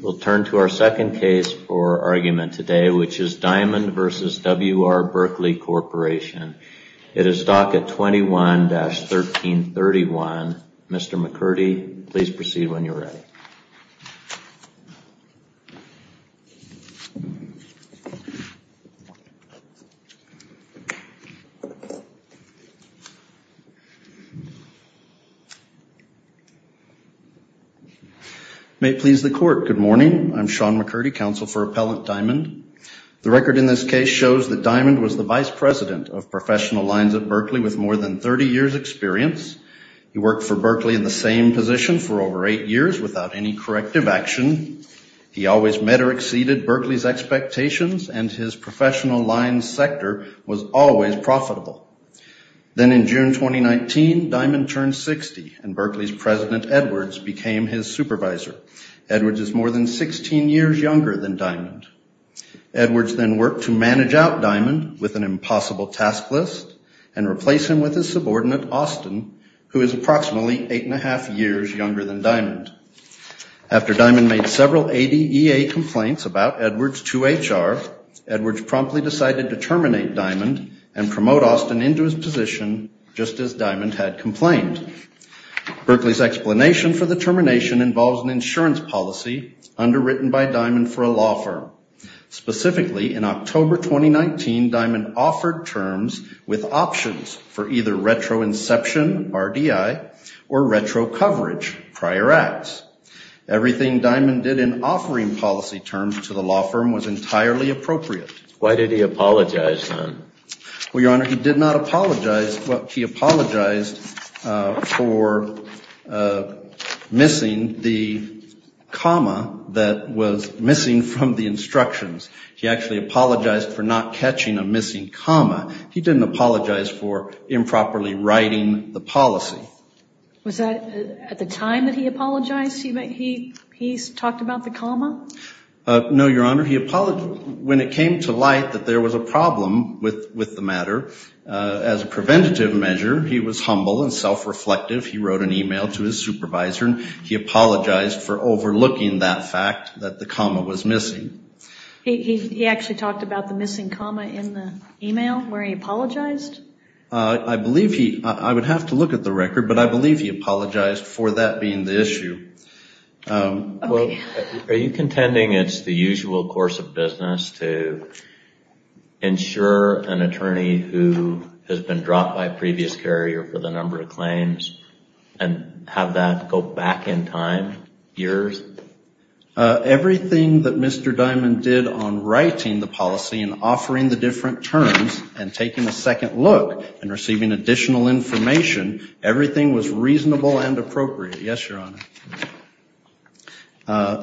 We'll turn to our second case for argument today, which is Diamond v. W.R. Berkley Corporation. It is docket 21-1331. Mr. McCurdy, please proceed when you're ready. May it please the Court, good morning. I'm Sean McCurdy, Counsel for Appellant Diamond. The record in this case shows that Diamond was the Vice President of Professional Lines at Berkley with more than 30 years' experience. He worked for Berkley in the same position for over eight years without any corrective action. He always met or exceeded Berkley's expectations and his Professional Lines sector was always profitable. Then in June 2019, Diamond turned 60 and Berkley's President, Edwards, became his supervisor. Edwards is more than 16 years younger than Diamond. Edwards then worked to manage out Diamond with an impossible task list and replace him with his subordinate, Austin, who is approximately eight and a half years younger than Diamond. After Diamond made several ADA complaints about Edwards to HR, Edwards promptly decided to terminate Diamond and promote Austin into his position just as Diamond had complained. Berkley's explanation for the termination involves an insurance policy underwritten by Diamond for a law firm. Specifically, in prior acts. Everything Diamond did in offering policy terms to the law firm was entirely appropriate. Why did he apologize, then? Well, Your Honor, he did not apologize. He apologized for missing the comma that was missing from the instructions. He actually apologized for not catching a missing comma. He didn't apologize for improperly writing the policy. Was that at the time that he apologized? He talked about the comma? No, Your Honor. When it came to light that there was a problem with the matter, as a preventative measure, he was humble and self-reflective. He wrote an email to his supervisor and he apologized for overlooking that fact that the comma was missing. He actually talked about the missing comma in the email where he apologized? I believe he, I would have to look at the record, but I believe he apologized for that being the issue. Okay. Are you contending it's the usual course of business to insure an attorney who has been dropped by a previous carrier for the number of claims and have that go back in time, years? Everything that Mr. Diamond did on writing the policy and offering the different terms and taking a second look and receiving additional information, everything was reasonable and appropriate. Yes, Your Honor.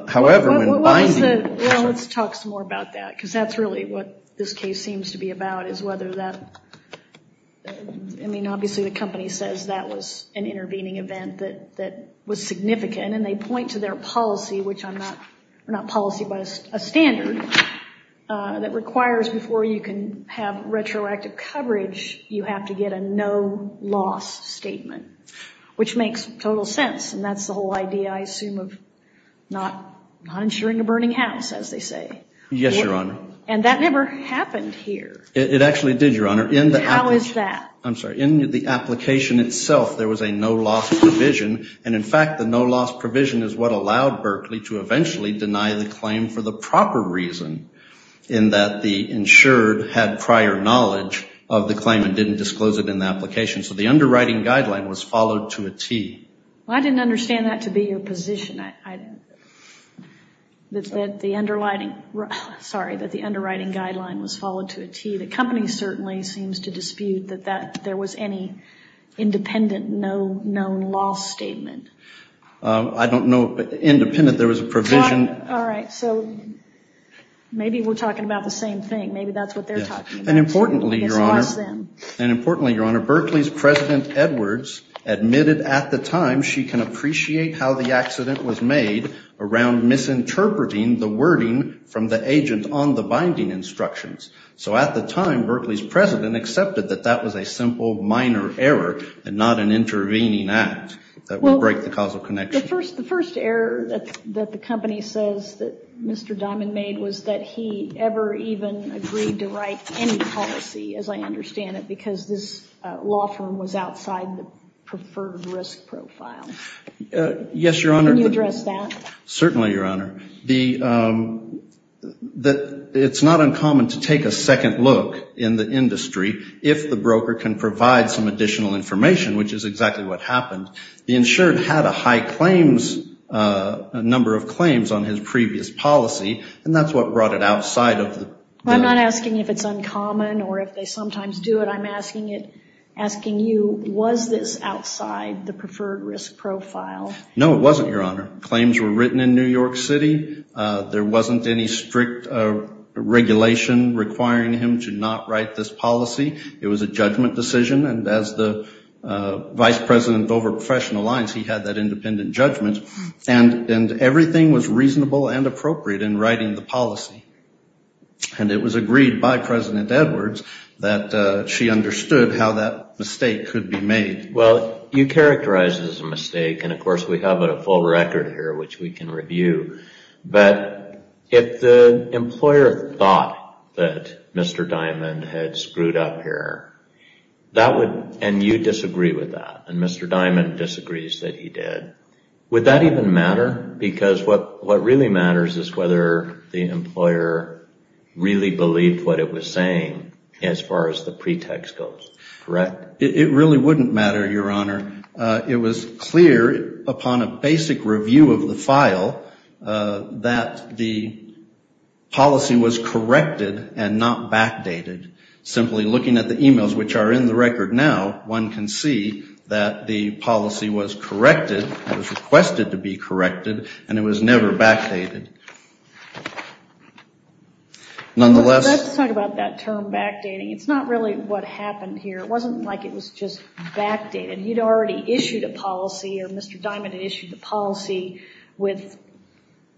However, when binding... Well, let's talk some more about that because that's really what this case seems to be about is whether that, I mean, obviously the company says that was an intervening event that was significant and they point to their policy, which I'm not, we're not policy by a standard, that requires before you can have retroactive coverage, you have to get a no-loss statement, which makes total sense and that's the whole idea, I assume, of not insuring a burning house as they say. Yes, Your Honor. And that never happened here. It actually did, Your Honor. How is that? I'm sorry. In the application itself, there was a no-loss provision and in fact, the no-loss provision is what allowed Berkeley to eventually deny the claim for the proper reason in that the insured had prior knowledge of the claim and didn't disclose it in the application. So the underwriting guideline was followed to a T. Well, I didn't understand that to be your position, that the underwriting, sorry, that the underwriting guideline was followed to a T. The company certainly seems to dispute that there was any independent no-loss statement. I don't know, independent, there was a provision. All right. So maybe we're talking about the same thing. Maybe that's what they're talking about. And importantly, Your Honor, Berkeley's President Edwards admitted at the time she can appreciate how the accident was made around misinterpreting the wording from the agent on the binding instructions. So at the time, Berkeley's President accepted that that was a simple, minor error and not an intervening act that would break the causal connection. The first error that the company says that Mr. Diamond made was that he ever even agreed to write any policy, as I understand it, because this law firm was outside the preferred risk profile. Yes, Your Honor. Can you address that? Certainly, Your Honor. It's not uncommon to take a second look in the industry if the information, which is exactly what happened, the insured had a high claims, a number of claims on his previous policy, and that's what brought it outside of the... I'm not asking if it's uncommon or if they sometimes do it. I'm asking it, asking you, was this outside the preferred risk profile? No, it wasn't, Your Honor. Claims were written in New York City. There wasn't any strict regulation requiring him to not write this policy. It was a judgment decision, and as the vice president over professional lines, he had that independent judgment, and everything was reasonable and appropriate in writing the policy, and it was agreed by President Edwards that she understood how that mistake could be made. Well, you characterize it as a mistake, and of course, we have a full record here which we can review, but if the employer thought that Mr. Diamond had screwed up here, that would... And you disagree with that, and Mr. Diamond disagrees that he did. Would that even matter? Because what really matters is whether the employer really believed what it was saying as far as the pretext goes, correct? It really wouldn't matter, Your Honor. It was clear upon a basic review of the file that the policy was corrected and not backdated. Simply looking at the emails which are in the record now, one can see that the policy was corrected, it was requested to be corrected, and it was never backdated. Nonetheless... Let's talk about that term backdating. It's not really what happened here. It wasn't like it was just backdated. He'd already issued a policy, or Mr. Diamond had issued a policy with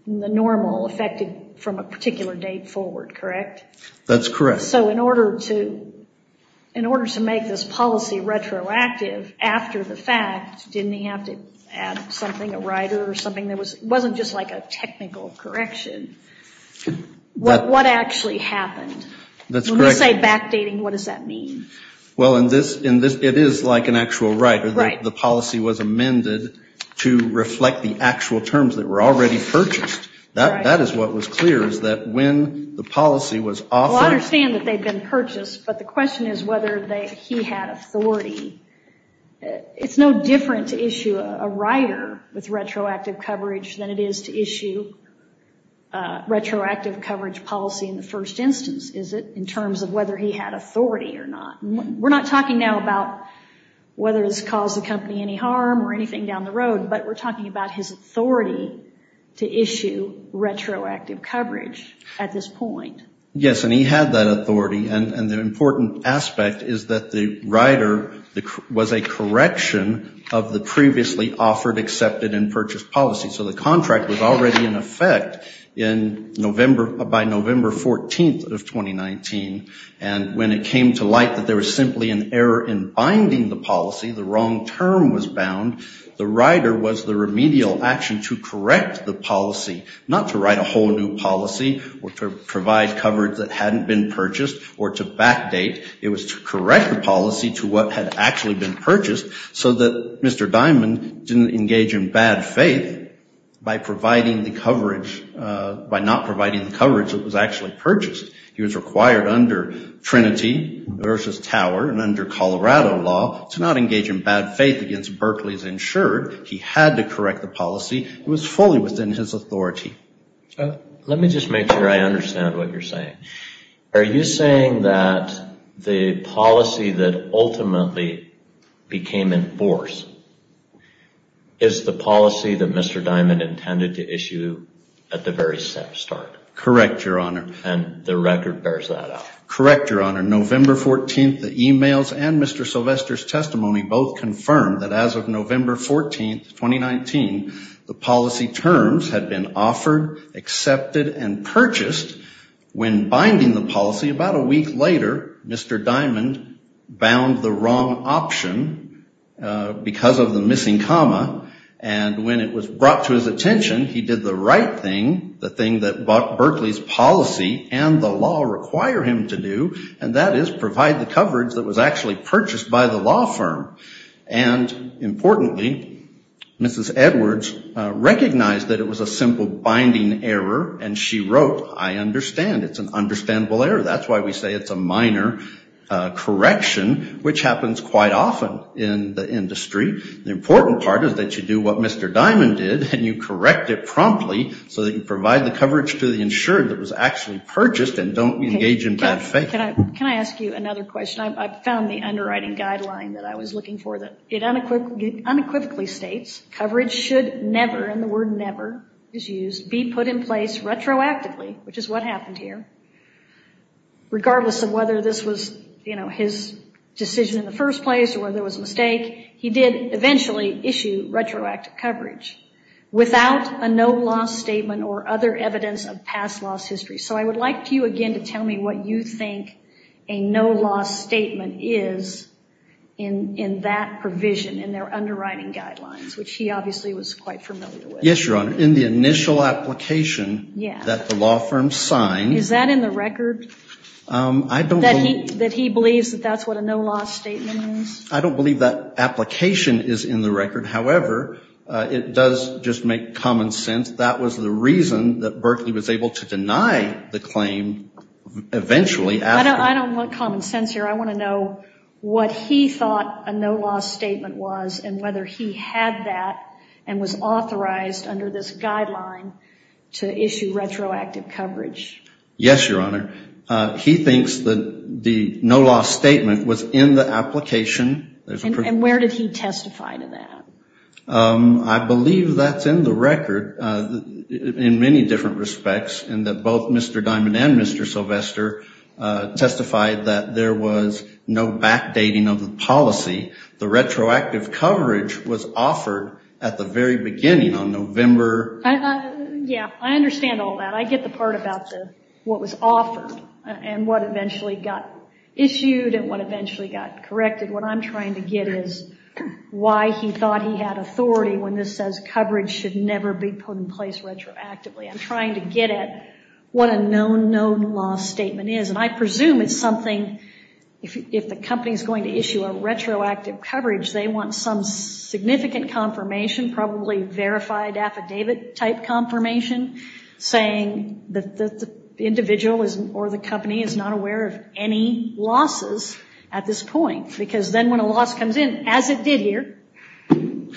the normal effected from a particular date forward, correct? That's correct. So in order to make this policy retroactive after the fact, didn't he have to add something, a writer or something? It wasn't just like a technical correction. What actually happened? Let's say backdating, what does that mean? Well, in this, it is like an actual writer. The policy was amended to reflect the actual terms that were already purchased. That is what was clear, is that when the policy was Well, I understand that they've been purchased, but the question is whether he had authority. It's no different to issue a writer with retroactive coverage than it is to issue a retroactive coverage policy in the first instance, is it, in terms of whether he had authority or not. We're not talking now about whether it's caused the company any harm or anything down the road, but we're talking about his authority to issue retroactive coverage at this point. Yes, and he had that authority. And the important aspect is that the writer was a correction of the previously offered, accepted and purchased policy. So the contract was already in effect in November, by November 14th of 2019. And when it came to light that there was simply an error in binding the policy, the wrong term was bound, the writer was the remedial action to correct the policy, not to write a whole new policy or to provide coverage that hadn't been purchased or to backdate. It was to correct the policy to what had actually been purchased so that Mr. Diamond didn't engage in bad faith by providing the coverage, by not providing the coverage that was actually purchased. He was required under Trinity versus Tower and under Colorado law to not engage in bad faith against Berkeley's insured. He had to correct the policy. It was fully within his authority. Let me just make sure I understand what you're saying. Are you saying that the policy that ultimately became in force is the policy that Mr. Diamond intended to issue at the very start? Correct Your Honor. And the record bears that out? Correct Your Honor. November 14th, the emails and Mr. Sylvester's testimony both confirmed that as of November 14th, 2019, the policy terms had been offered, accepted, and purchased when binding the policy. About a week later, Mr. Diamond bound the wrong option because of the missing comma. And when it was brought to his attention, he did the right thing, the thing that Berkeley's policy and the law require him to do, and that is provide the coverage. And importantly, Mrs. Edwards recognized that it was a simple binding error and she wrote, I understand. It's an understandable error. That's why we say it's a minor correction, which happens quite often in the industry. The important part is that you do what Mr. Diamond did and you correct it promptly so that you provide the coverage to the insured that was actually purchased and don't engage in bad faith. Can I ask you another question? I found the underwriting guideline that I was looking for. It unequivocally states coverage should never, and the word never is used, be put in place retroactively, which is what happened here. Regardless of whether this was his decision in the first place or whether it was a mistake, he did eventually issue retroactive coverage without a no-loss statement or other evidence of past loss history. So I would like you again to tell me what you think a no-loss statement is in that provision, in their underwriting guidelines, which he obviously was quite familiar with. Yes, Your Honor. In the initial application that the law firm signed Is that in the record, that he believes that that's what a no-loss statement is? I don't believe that application is in the record. However, it does just make common sense. That was the reason that Berkley was able to deny the claim eventually after I don't want common sense here. I want to know what he thought a no-loss statement was and whether he had that and was authorized under this guideline to issue retroactive coverage. Yes, Your Honor. He thinks that the no-loss statement was in the application. And where did he testify to that? I believe that's in the record in many different respects, in that both Mr. Diamond and Mr. Sylvester testified that there was no backdating of the policy. The retroactive coverage was offered at the very beginning on November... Yeah, I understand all that. I get the part about what was offered and what eventually got issued and what eventually got corrected. What I'm trying to get is why he thought he had authority when this says coverage should never be put in place retroactively. I'm trying to get at what a known no-loss statement is. And I presume it's something, if the company is going to issue a retroactive coverage, they want some significant confirmation, probably verified affidavit type confirmation, saying that the individual or the company is not aware of any losses at this point. Because then when a loss comes in, as it did here,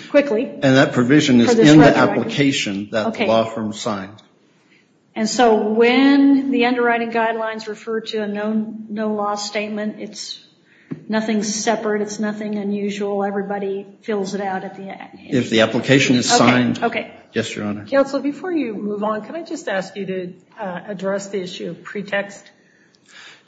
quickly... And that provision is in the application that the law firm signed. And so when the underwriting guidelines refer to a known no-loss statement, it's nothing separate. It's nothing unusual. Everybody fills it out at the end. If the application is signed, yes, Your Honor. Counselor, before you move on, can I just ask you to address the issue of pretext?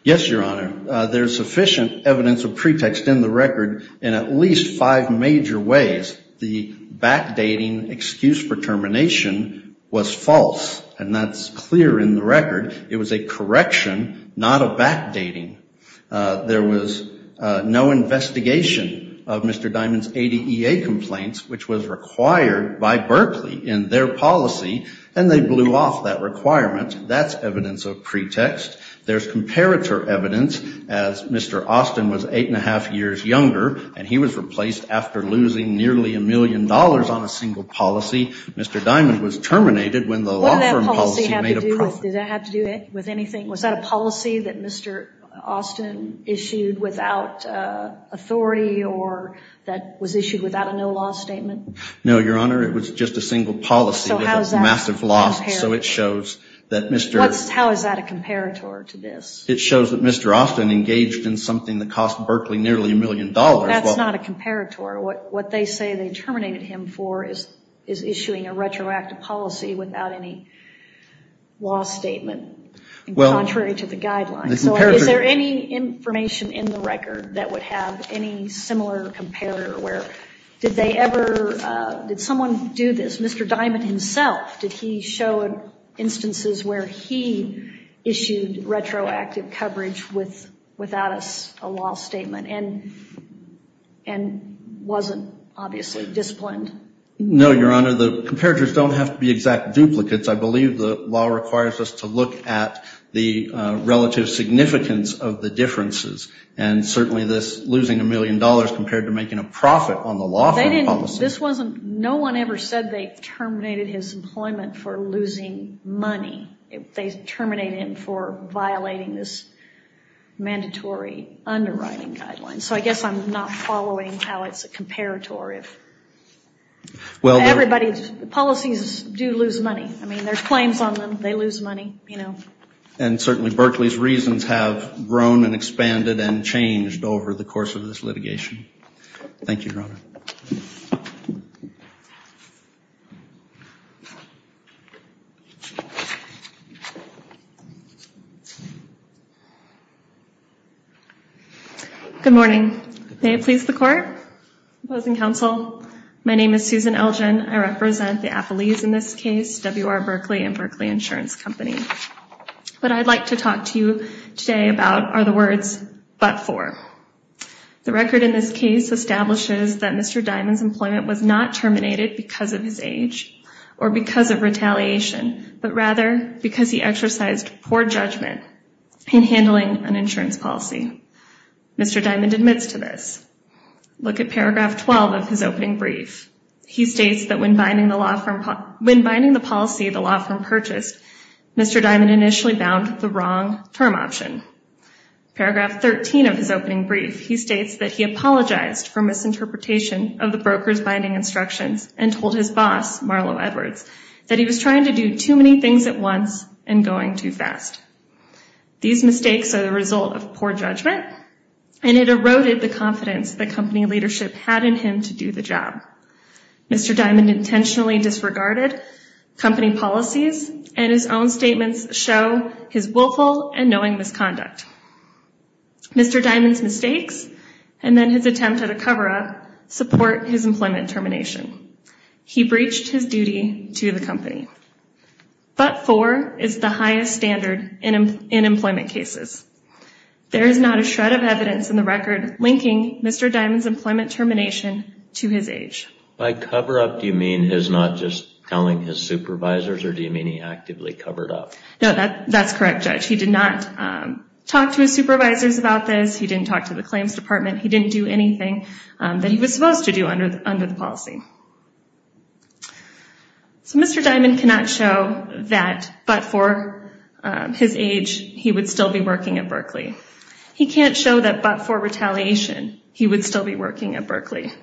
Yes, Your Honor. There's sufficient evidence of pretext in the record in at least five major ways. The backdating excuse for termination was false. And that's clear in the record. It was a correction, not a backdating. There was no investigation of Mr. Diamond's ADEA complaints, which was required by Berkeley in their policy, and they blew off that requirement. That's evidence of pretext. There's comparator evidence, as Mr. Austin was eight and a half years younger, and he was replaced after losing nearly a million dollars on a single policy. Mr. Diamond was terminated when the law firm policy made a profit. What did that policy have to do with anything? Was that a policy that Mr. Austin issued without authority or that was issued without a no-loss statement? No, Your Honor. It was just a single policy with a massive loss. So how is that a comparator? So it shows that Mr. How is that a comparator to this? It shows that Mr. Austin engaged in something that cost Berkeley nearly a million dollars. That's not a comparator. What they say they terminated him for is issuing a retroactive policy without any loss statement, contrary to the guidelines. So is there any information in the record that would have any similar comparator where did they ever, did someone do this? Mr. Diamond himself, did he show instances where he issued retroactive coverage without a loss statement and wasn't obviously disciplined? No, Your Honor. The comparators don't have to be exact duplicates. I believe the law requires us to look at the relative significance of the differences, and certainly this losing a million dollars compared to making a profit on the loss policy. No one ever said they terminated his employment for losing money. They terminated him for violating this mandatory underwriting guideline. So I guess I'm not following how it's a comparator. Policies do lose money. I mean, there's claims on them. They lose money. And certainly Berkeley's reasons have grown and expanded and changed over the course of this litigation. Thank you, Your Honor. Good morning. May it please the Court? Opposing counsel? My name is Susan Elgin. I represent the But I'd like to talk to you today about are the words, but for. The record in this case establishes that Mr. Diamond's employment was not terminated because of his age or because of retaliation, but rather because he exercised poor judgment in handling an insurance policy. Mr. Diamond admits to this. Look at paragraph 12 of his opening brief. He states that when binding the policy, the law firm purchased, Mr. Diamond initially bound the wrong term option. Paragraph 13 of his opening brief, he states that he apologized for misinterpretation of the broker's binding instructions and told his boss, Marlo Edwards, that he was trying to do too many things at once and going too fast. These mistakes are the result of poor judgment and it eroded the confidence that company leadership had in him to do the job. Mr. Diamond intentionally disregarded company policies, and his own statements show his willful and knowing misconduct. Mr. Diamond's mistakes and then his attempt at a cover-up support his employment termination. He breached his duty to the company. But for is the highest standard in employment cases. There is not a shred of evidence in the record linking Mr. Diamond's employment termination to his age. By cover-up, do you mean his not just telling his supervisors or do you mean he actively covered up? No, that's correct, Judge. He did not talk to his supervisors about this. He didn't talk to the claims department. He didn't do anything that he was supposed to do under the policy. Mr. Diamond cannot show that but for his age, he would still be working at Berkeley. He would still be working at Berkeley.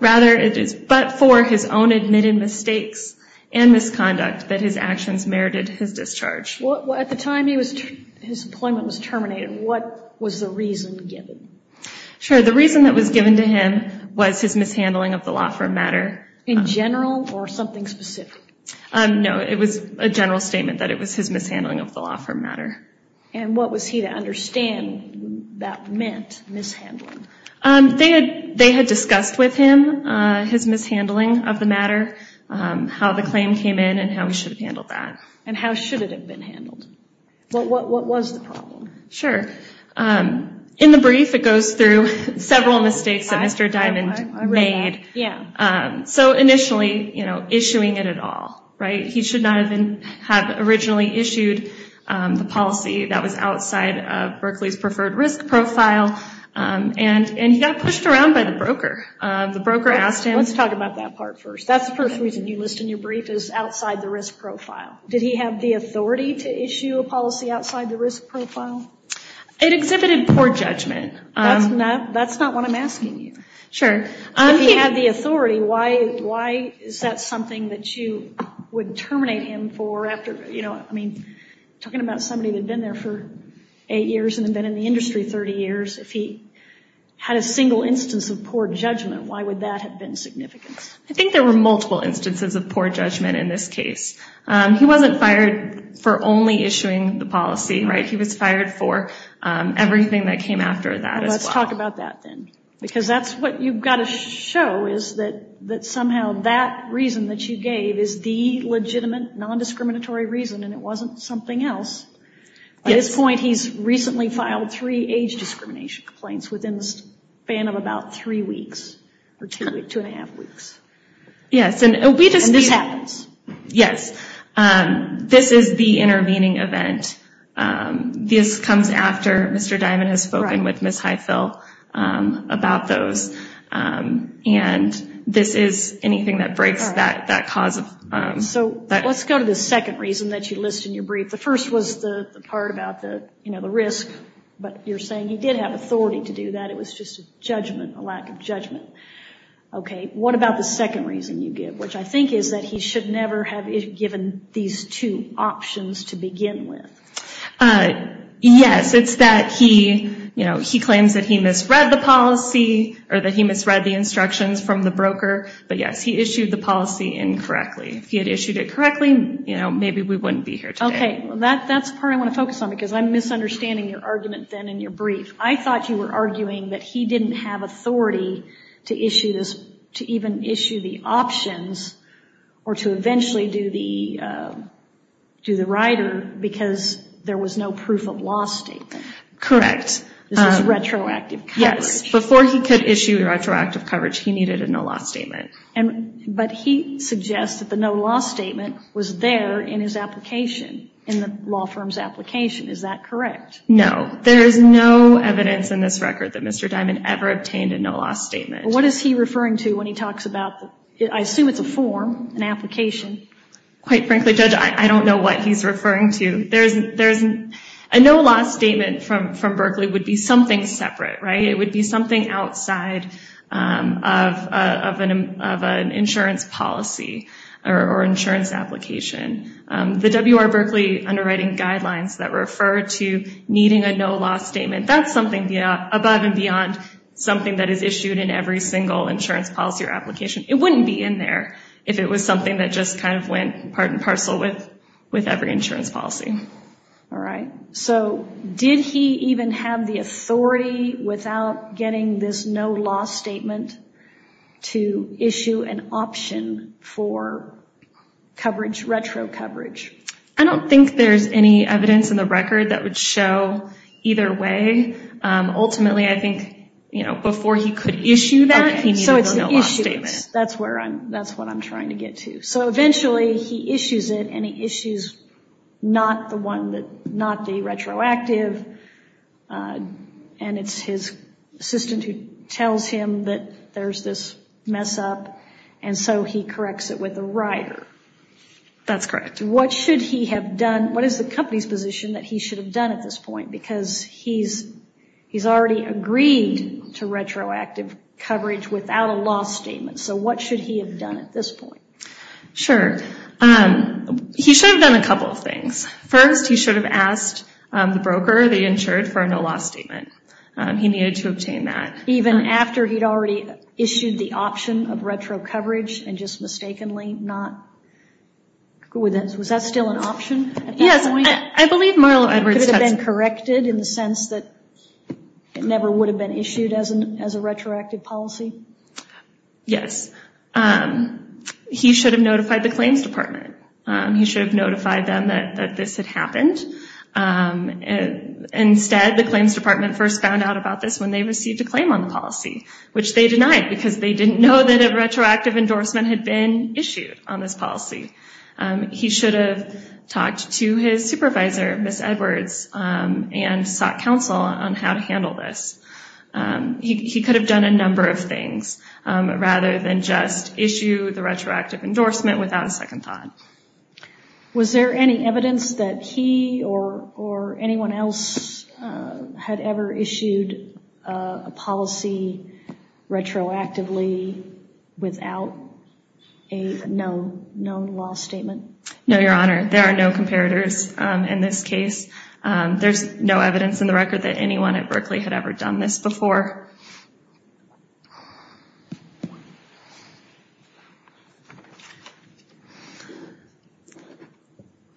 Rather, it is but for his own admitted mistakes and misconduct that his actions merited his discharge. At the time his employment was terminated, what was the reason given? Sure, the reason that was given to him was his mishandling of the law firm matter. In general or something specific? No, it was a general statement that it was his mishandling of the law firm matter. What was he to understand that meant, mishandling? They had discussed with him his mishandling of the matter, how the claim came in and how we should have handled that. How should it have been handled? What was the problem? In the brief, it goes through several mistakes that Mr. Diamond made. Initially, issuing it at all. He should not have originally issued the policy that was outside of Berkeley's preferred risk profile. He got pushed around by the broker. The broker asked him... Let's talk about that part first. That's the first reason you list in your brief is outside the risk profile. Did he have the authority to issue a policy outside the risk profile? It exhibited poor judgment. That's not what I'm asking you. Sure. If he had the authority, why is that something that you would terminate him for after... Talking about somebody that had been there for eight years and had been in the industry 30 years, if he had a single instance of poor judgment, why would that have been significant? I think there were multiple instances of poor judgment in this case. He wasn't fired for only issuing the policy. He was fired for everything that came after that as well. Let's talk about that then. Because that's what you've got to show is that somehow that reason that you gave is the legitimate, non-discriminatory reason and it wasn't something else. At this point, he's recently filed three age discrimination complaints within the span of about three weeks, or two and a half weeks. Yes. And this happens. Yes. This is the intervening event. This comes after Mr. Diamond has spoken with Ms. Heifel about those. And this is anything that breaks that cause. Let's go to the second reason that you list in your brief. The first was the part about the risk, but you're saying he did have authority to do that. It was just a lack of judgment. Okay. What about the second reason you give, which I think is that he should never have given these two options to begin with. Yes. It's that he claims that he misread the policy or that he misread the instructions from the broker. But yes, he issued the policy incorrectly. If he had issued it correctly, maybe we wouldn't be here today. Okay. That's the part I want to focus on because I'm misunderstanding your argument then in your brief. I thought you were arguing that he didn't have authority to even issue the options or to eventually do the rider because there was no proof of law statement. Correct. This is retroactive coverage. Yes. Before he could issue retroactive coverage, he needed a no law statement. But he suggests that the no law statement was there in his application, in the law firm's application. Is that correct? No. There is no evidence in this record that Mr. Diamond ever obtained a no law statement. What is he referring to when he talks about, I assume it's a form, an application. Quite frankly, Judge, I don't know what he's referring to. A no law statement from Berkeley would be something separate, right? It would be something outside of an insurance policy or insurance application. The W.R. Berkeley underwriting guidelines that refer to needing a no law statement, that's something above and beyond something that is issued in every single insurance policy or application. It wouldn't be in there if it was something that just kind of went part and parcel with every insurance policy. All right. Did he even have the authority without getting this no law statement to issue an option for coverage, retro coverage? I don't think there's any evidence in the record that would show either way. Ultimately, I think, you know, before he could issue that, he needed a no law statement. That's where I'm, that's what I'm trying to get to. So eventually he issues it and he issues not the one that, not the retroactive. And it's his assistant who tells him that there's this mess up. And so he corrects it with a rider. That's correct. What should he have done? What is the company's position that he should have done at this point? Because he's, he's already agreed to retroactive coverage without a law statement. So what should he have done at this point? Sure. He should have done a couple of things. First, he should have asked the broker, the insured, for a no law statement. He needed to obtain that. Even after he'd already issued the option of retro coverage and just mistakenly not go with it. Was that still an option at that point? Yes. I believe Merle Edwards had... Could it have been corrected in the sense that it never would have been issued as a retroactive policy? Yes. He should have notified the claims department. He should have notified them that this had happened. Instead, the claims department first found out about this when they received a no on the policy, which they denied because they didn't know that a retroactive endorsement had been issued on this policy. He should have talked to his supervisor, Ms. Edwards, and sought counsel on how to handle this. He could have done a number of things rather than just issue the retroactive endorsement without a second thought. Was there any evidence that he or anyone else had ever issued a policy retroactively without a known law statement? No, Your Honor. There are no comparators in this case. There's no evidence in the record that anyone at Berkeley had ever done this before.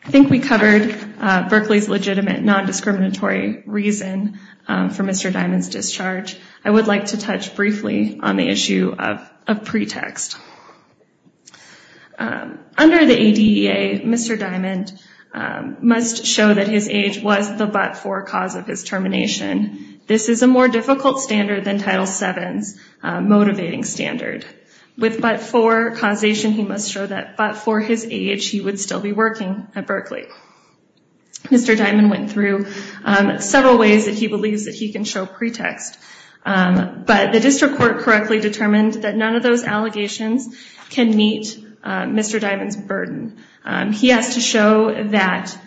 I think we covered Berkeley's legitimate, non-discriminatory reason for Mr. Diamond's discharge. I would like to touch briefly on the issue of pretext. Under the ADEA, Mr. Diamond must show that his age was the but-for cause of his termination. This is a more difficult standard than Title VII's motivating standard. With but-for causation, he must show that for his age, he would still be working at Berkeley. Mr. Diamond went through several ways that he believes that he can show pretext, but the district court correctly determined that none of those allegations can meet Mr. Diamond's burden. He has to show that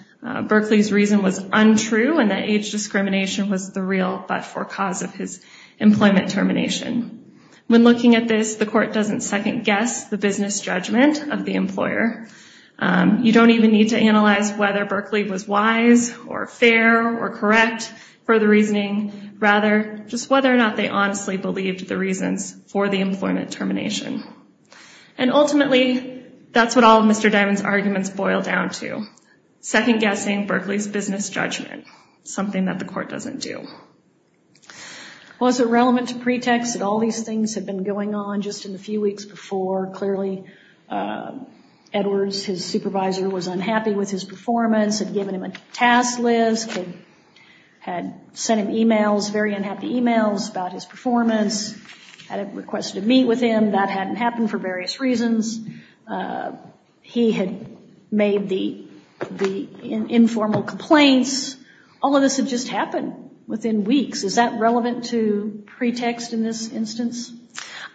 Berkeley's reason was untrue and that age discrimination was the real but-for cause of his employment termination. When looking at this, the court doesn't second-guess the business judgment of the employer. You don't even need to analyze whether Berkeley was wise or fair or correct for the reasoning. Rather, just whether or not they honestly believed the reasons for the employment termination. Ultimately, that's what all of Mr. Diamond's arguments boil down to, second-guessing Berkeley's business judgment, something that the court doesn't do. Was it relevant to pretext that all these things had been going on just in the few weeks before? Clearly, Edwards, his supervisor, was unhappy with his performance, had given him a task list, had sent him emails, very unhappy emails about his performance, had requested to meet with him. That hadn't happened for various reasons. He had made the informal complaints. All of this had just happened within weeks. Is that relevant to pretext in this instance?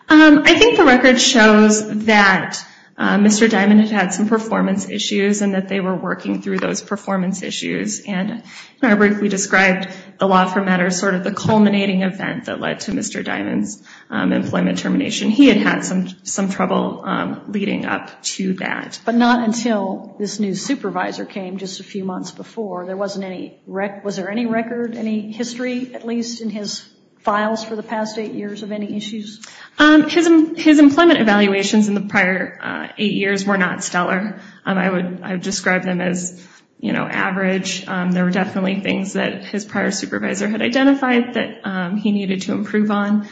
I think the record shows that Mr. Diamond had had some performance issues and that they were working through those performance issues. I briefly described the law for matters, sort of the culminating event that led to Mr. Diamond's employment termination. He had had some trouble leading up to that. But not until this new supervisor came just a few months before, was there any record, any history, at least, in his files for the past eight years of any issues? His employment evaluations in the prior eight years were not stellar. I would describe them as average. There were definitely things that his prior supervisor had identified that he needed to improve on.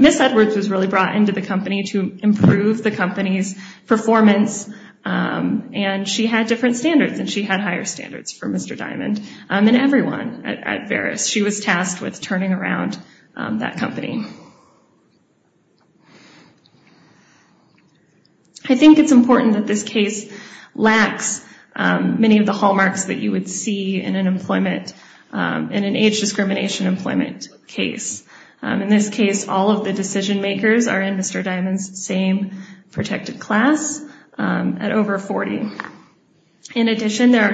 Miss Edwards was really and she had higher standards for Mr. Diamond and everyone at Veris. She was tasked with turning around that company. I think it's important that this case lacks many of the hallmarks that you would see in an employment, in an age discrimination employment case. In this case, all of the decision makers are in Mr. Diamond's same protected class at over 40. In addition, there's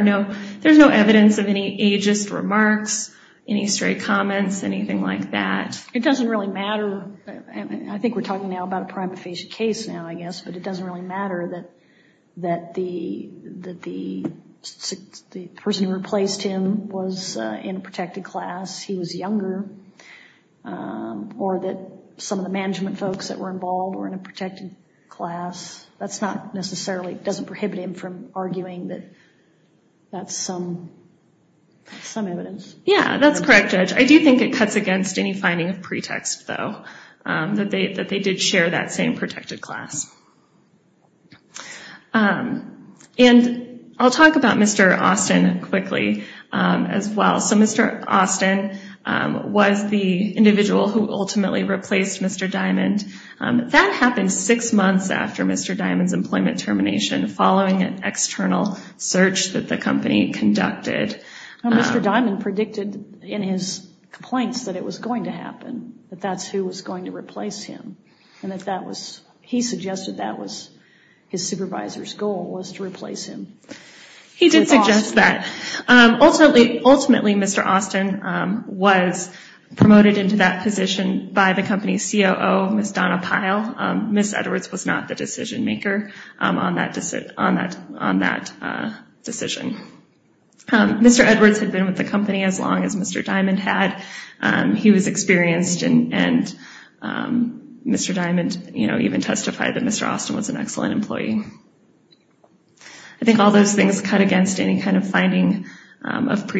no evidence of any ageist remarks, any stray comments, anything like that. It doesn't really matter. I think we're talking now about a prima facie case now, I guess, but it doesn't really matter that the person who replaced him was in a protected class. He was younger. Or that some of the management folks that were involved were in a protected class. That's not necessarily, doesn't prohibit him from arguing that that's some evidence. Yeah, that's correct, Judge. I do think it cuts against any finding of pretext, though, that they did share that same protected class. And I'll talk about Mr. Austin quickly as well. So Mr. Austin was the individual who ultimately replaced Mr. Diamond. That happened six months after Mr. Diamond's employment termination, following an external search that the company conducted. Mr. Diamond predicted in his complaints that it was going to happen, that that's who was going to replace him, and that he suggested that was his supervisor's goal, was to replace him. He did suggest that. Ultimately, Mr. Austin was promoted into that position by the company's COO, Ms. Donna Pyle. Ms. Edwards was not the decision maker on that decision. Mr. Edwards had been with the company as long as Mr. Diamond had. He was experienced, and Mr. Diamond even testified that Mr. Austin was an excellent employee. I think all those things cut against any kind of finding of prejudice.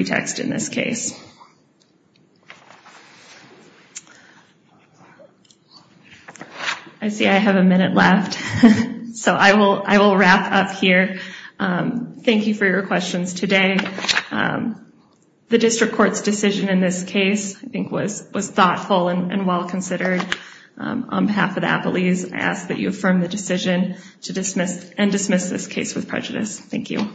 I see I have a minute left, so I will wrap up here. Thank you for your questions today. The District Court's decision in this case, I think, was thoughtful and well-considered. On behalf of the Appalachians, I ask that you affirm the decision and dismiss this case with prejudice. Thank you.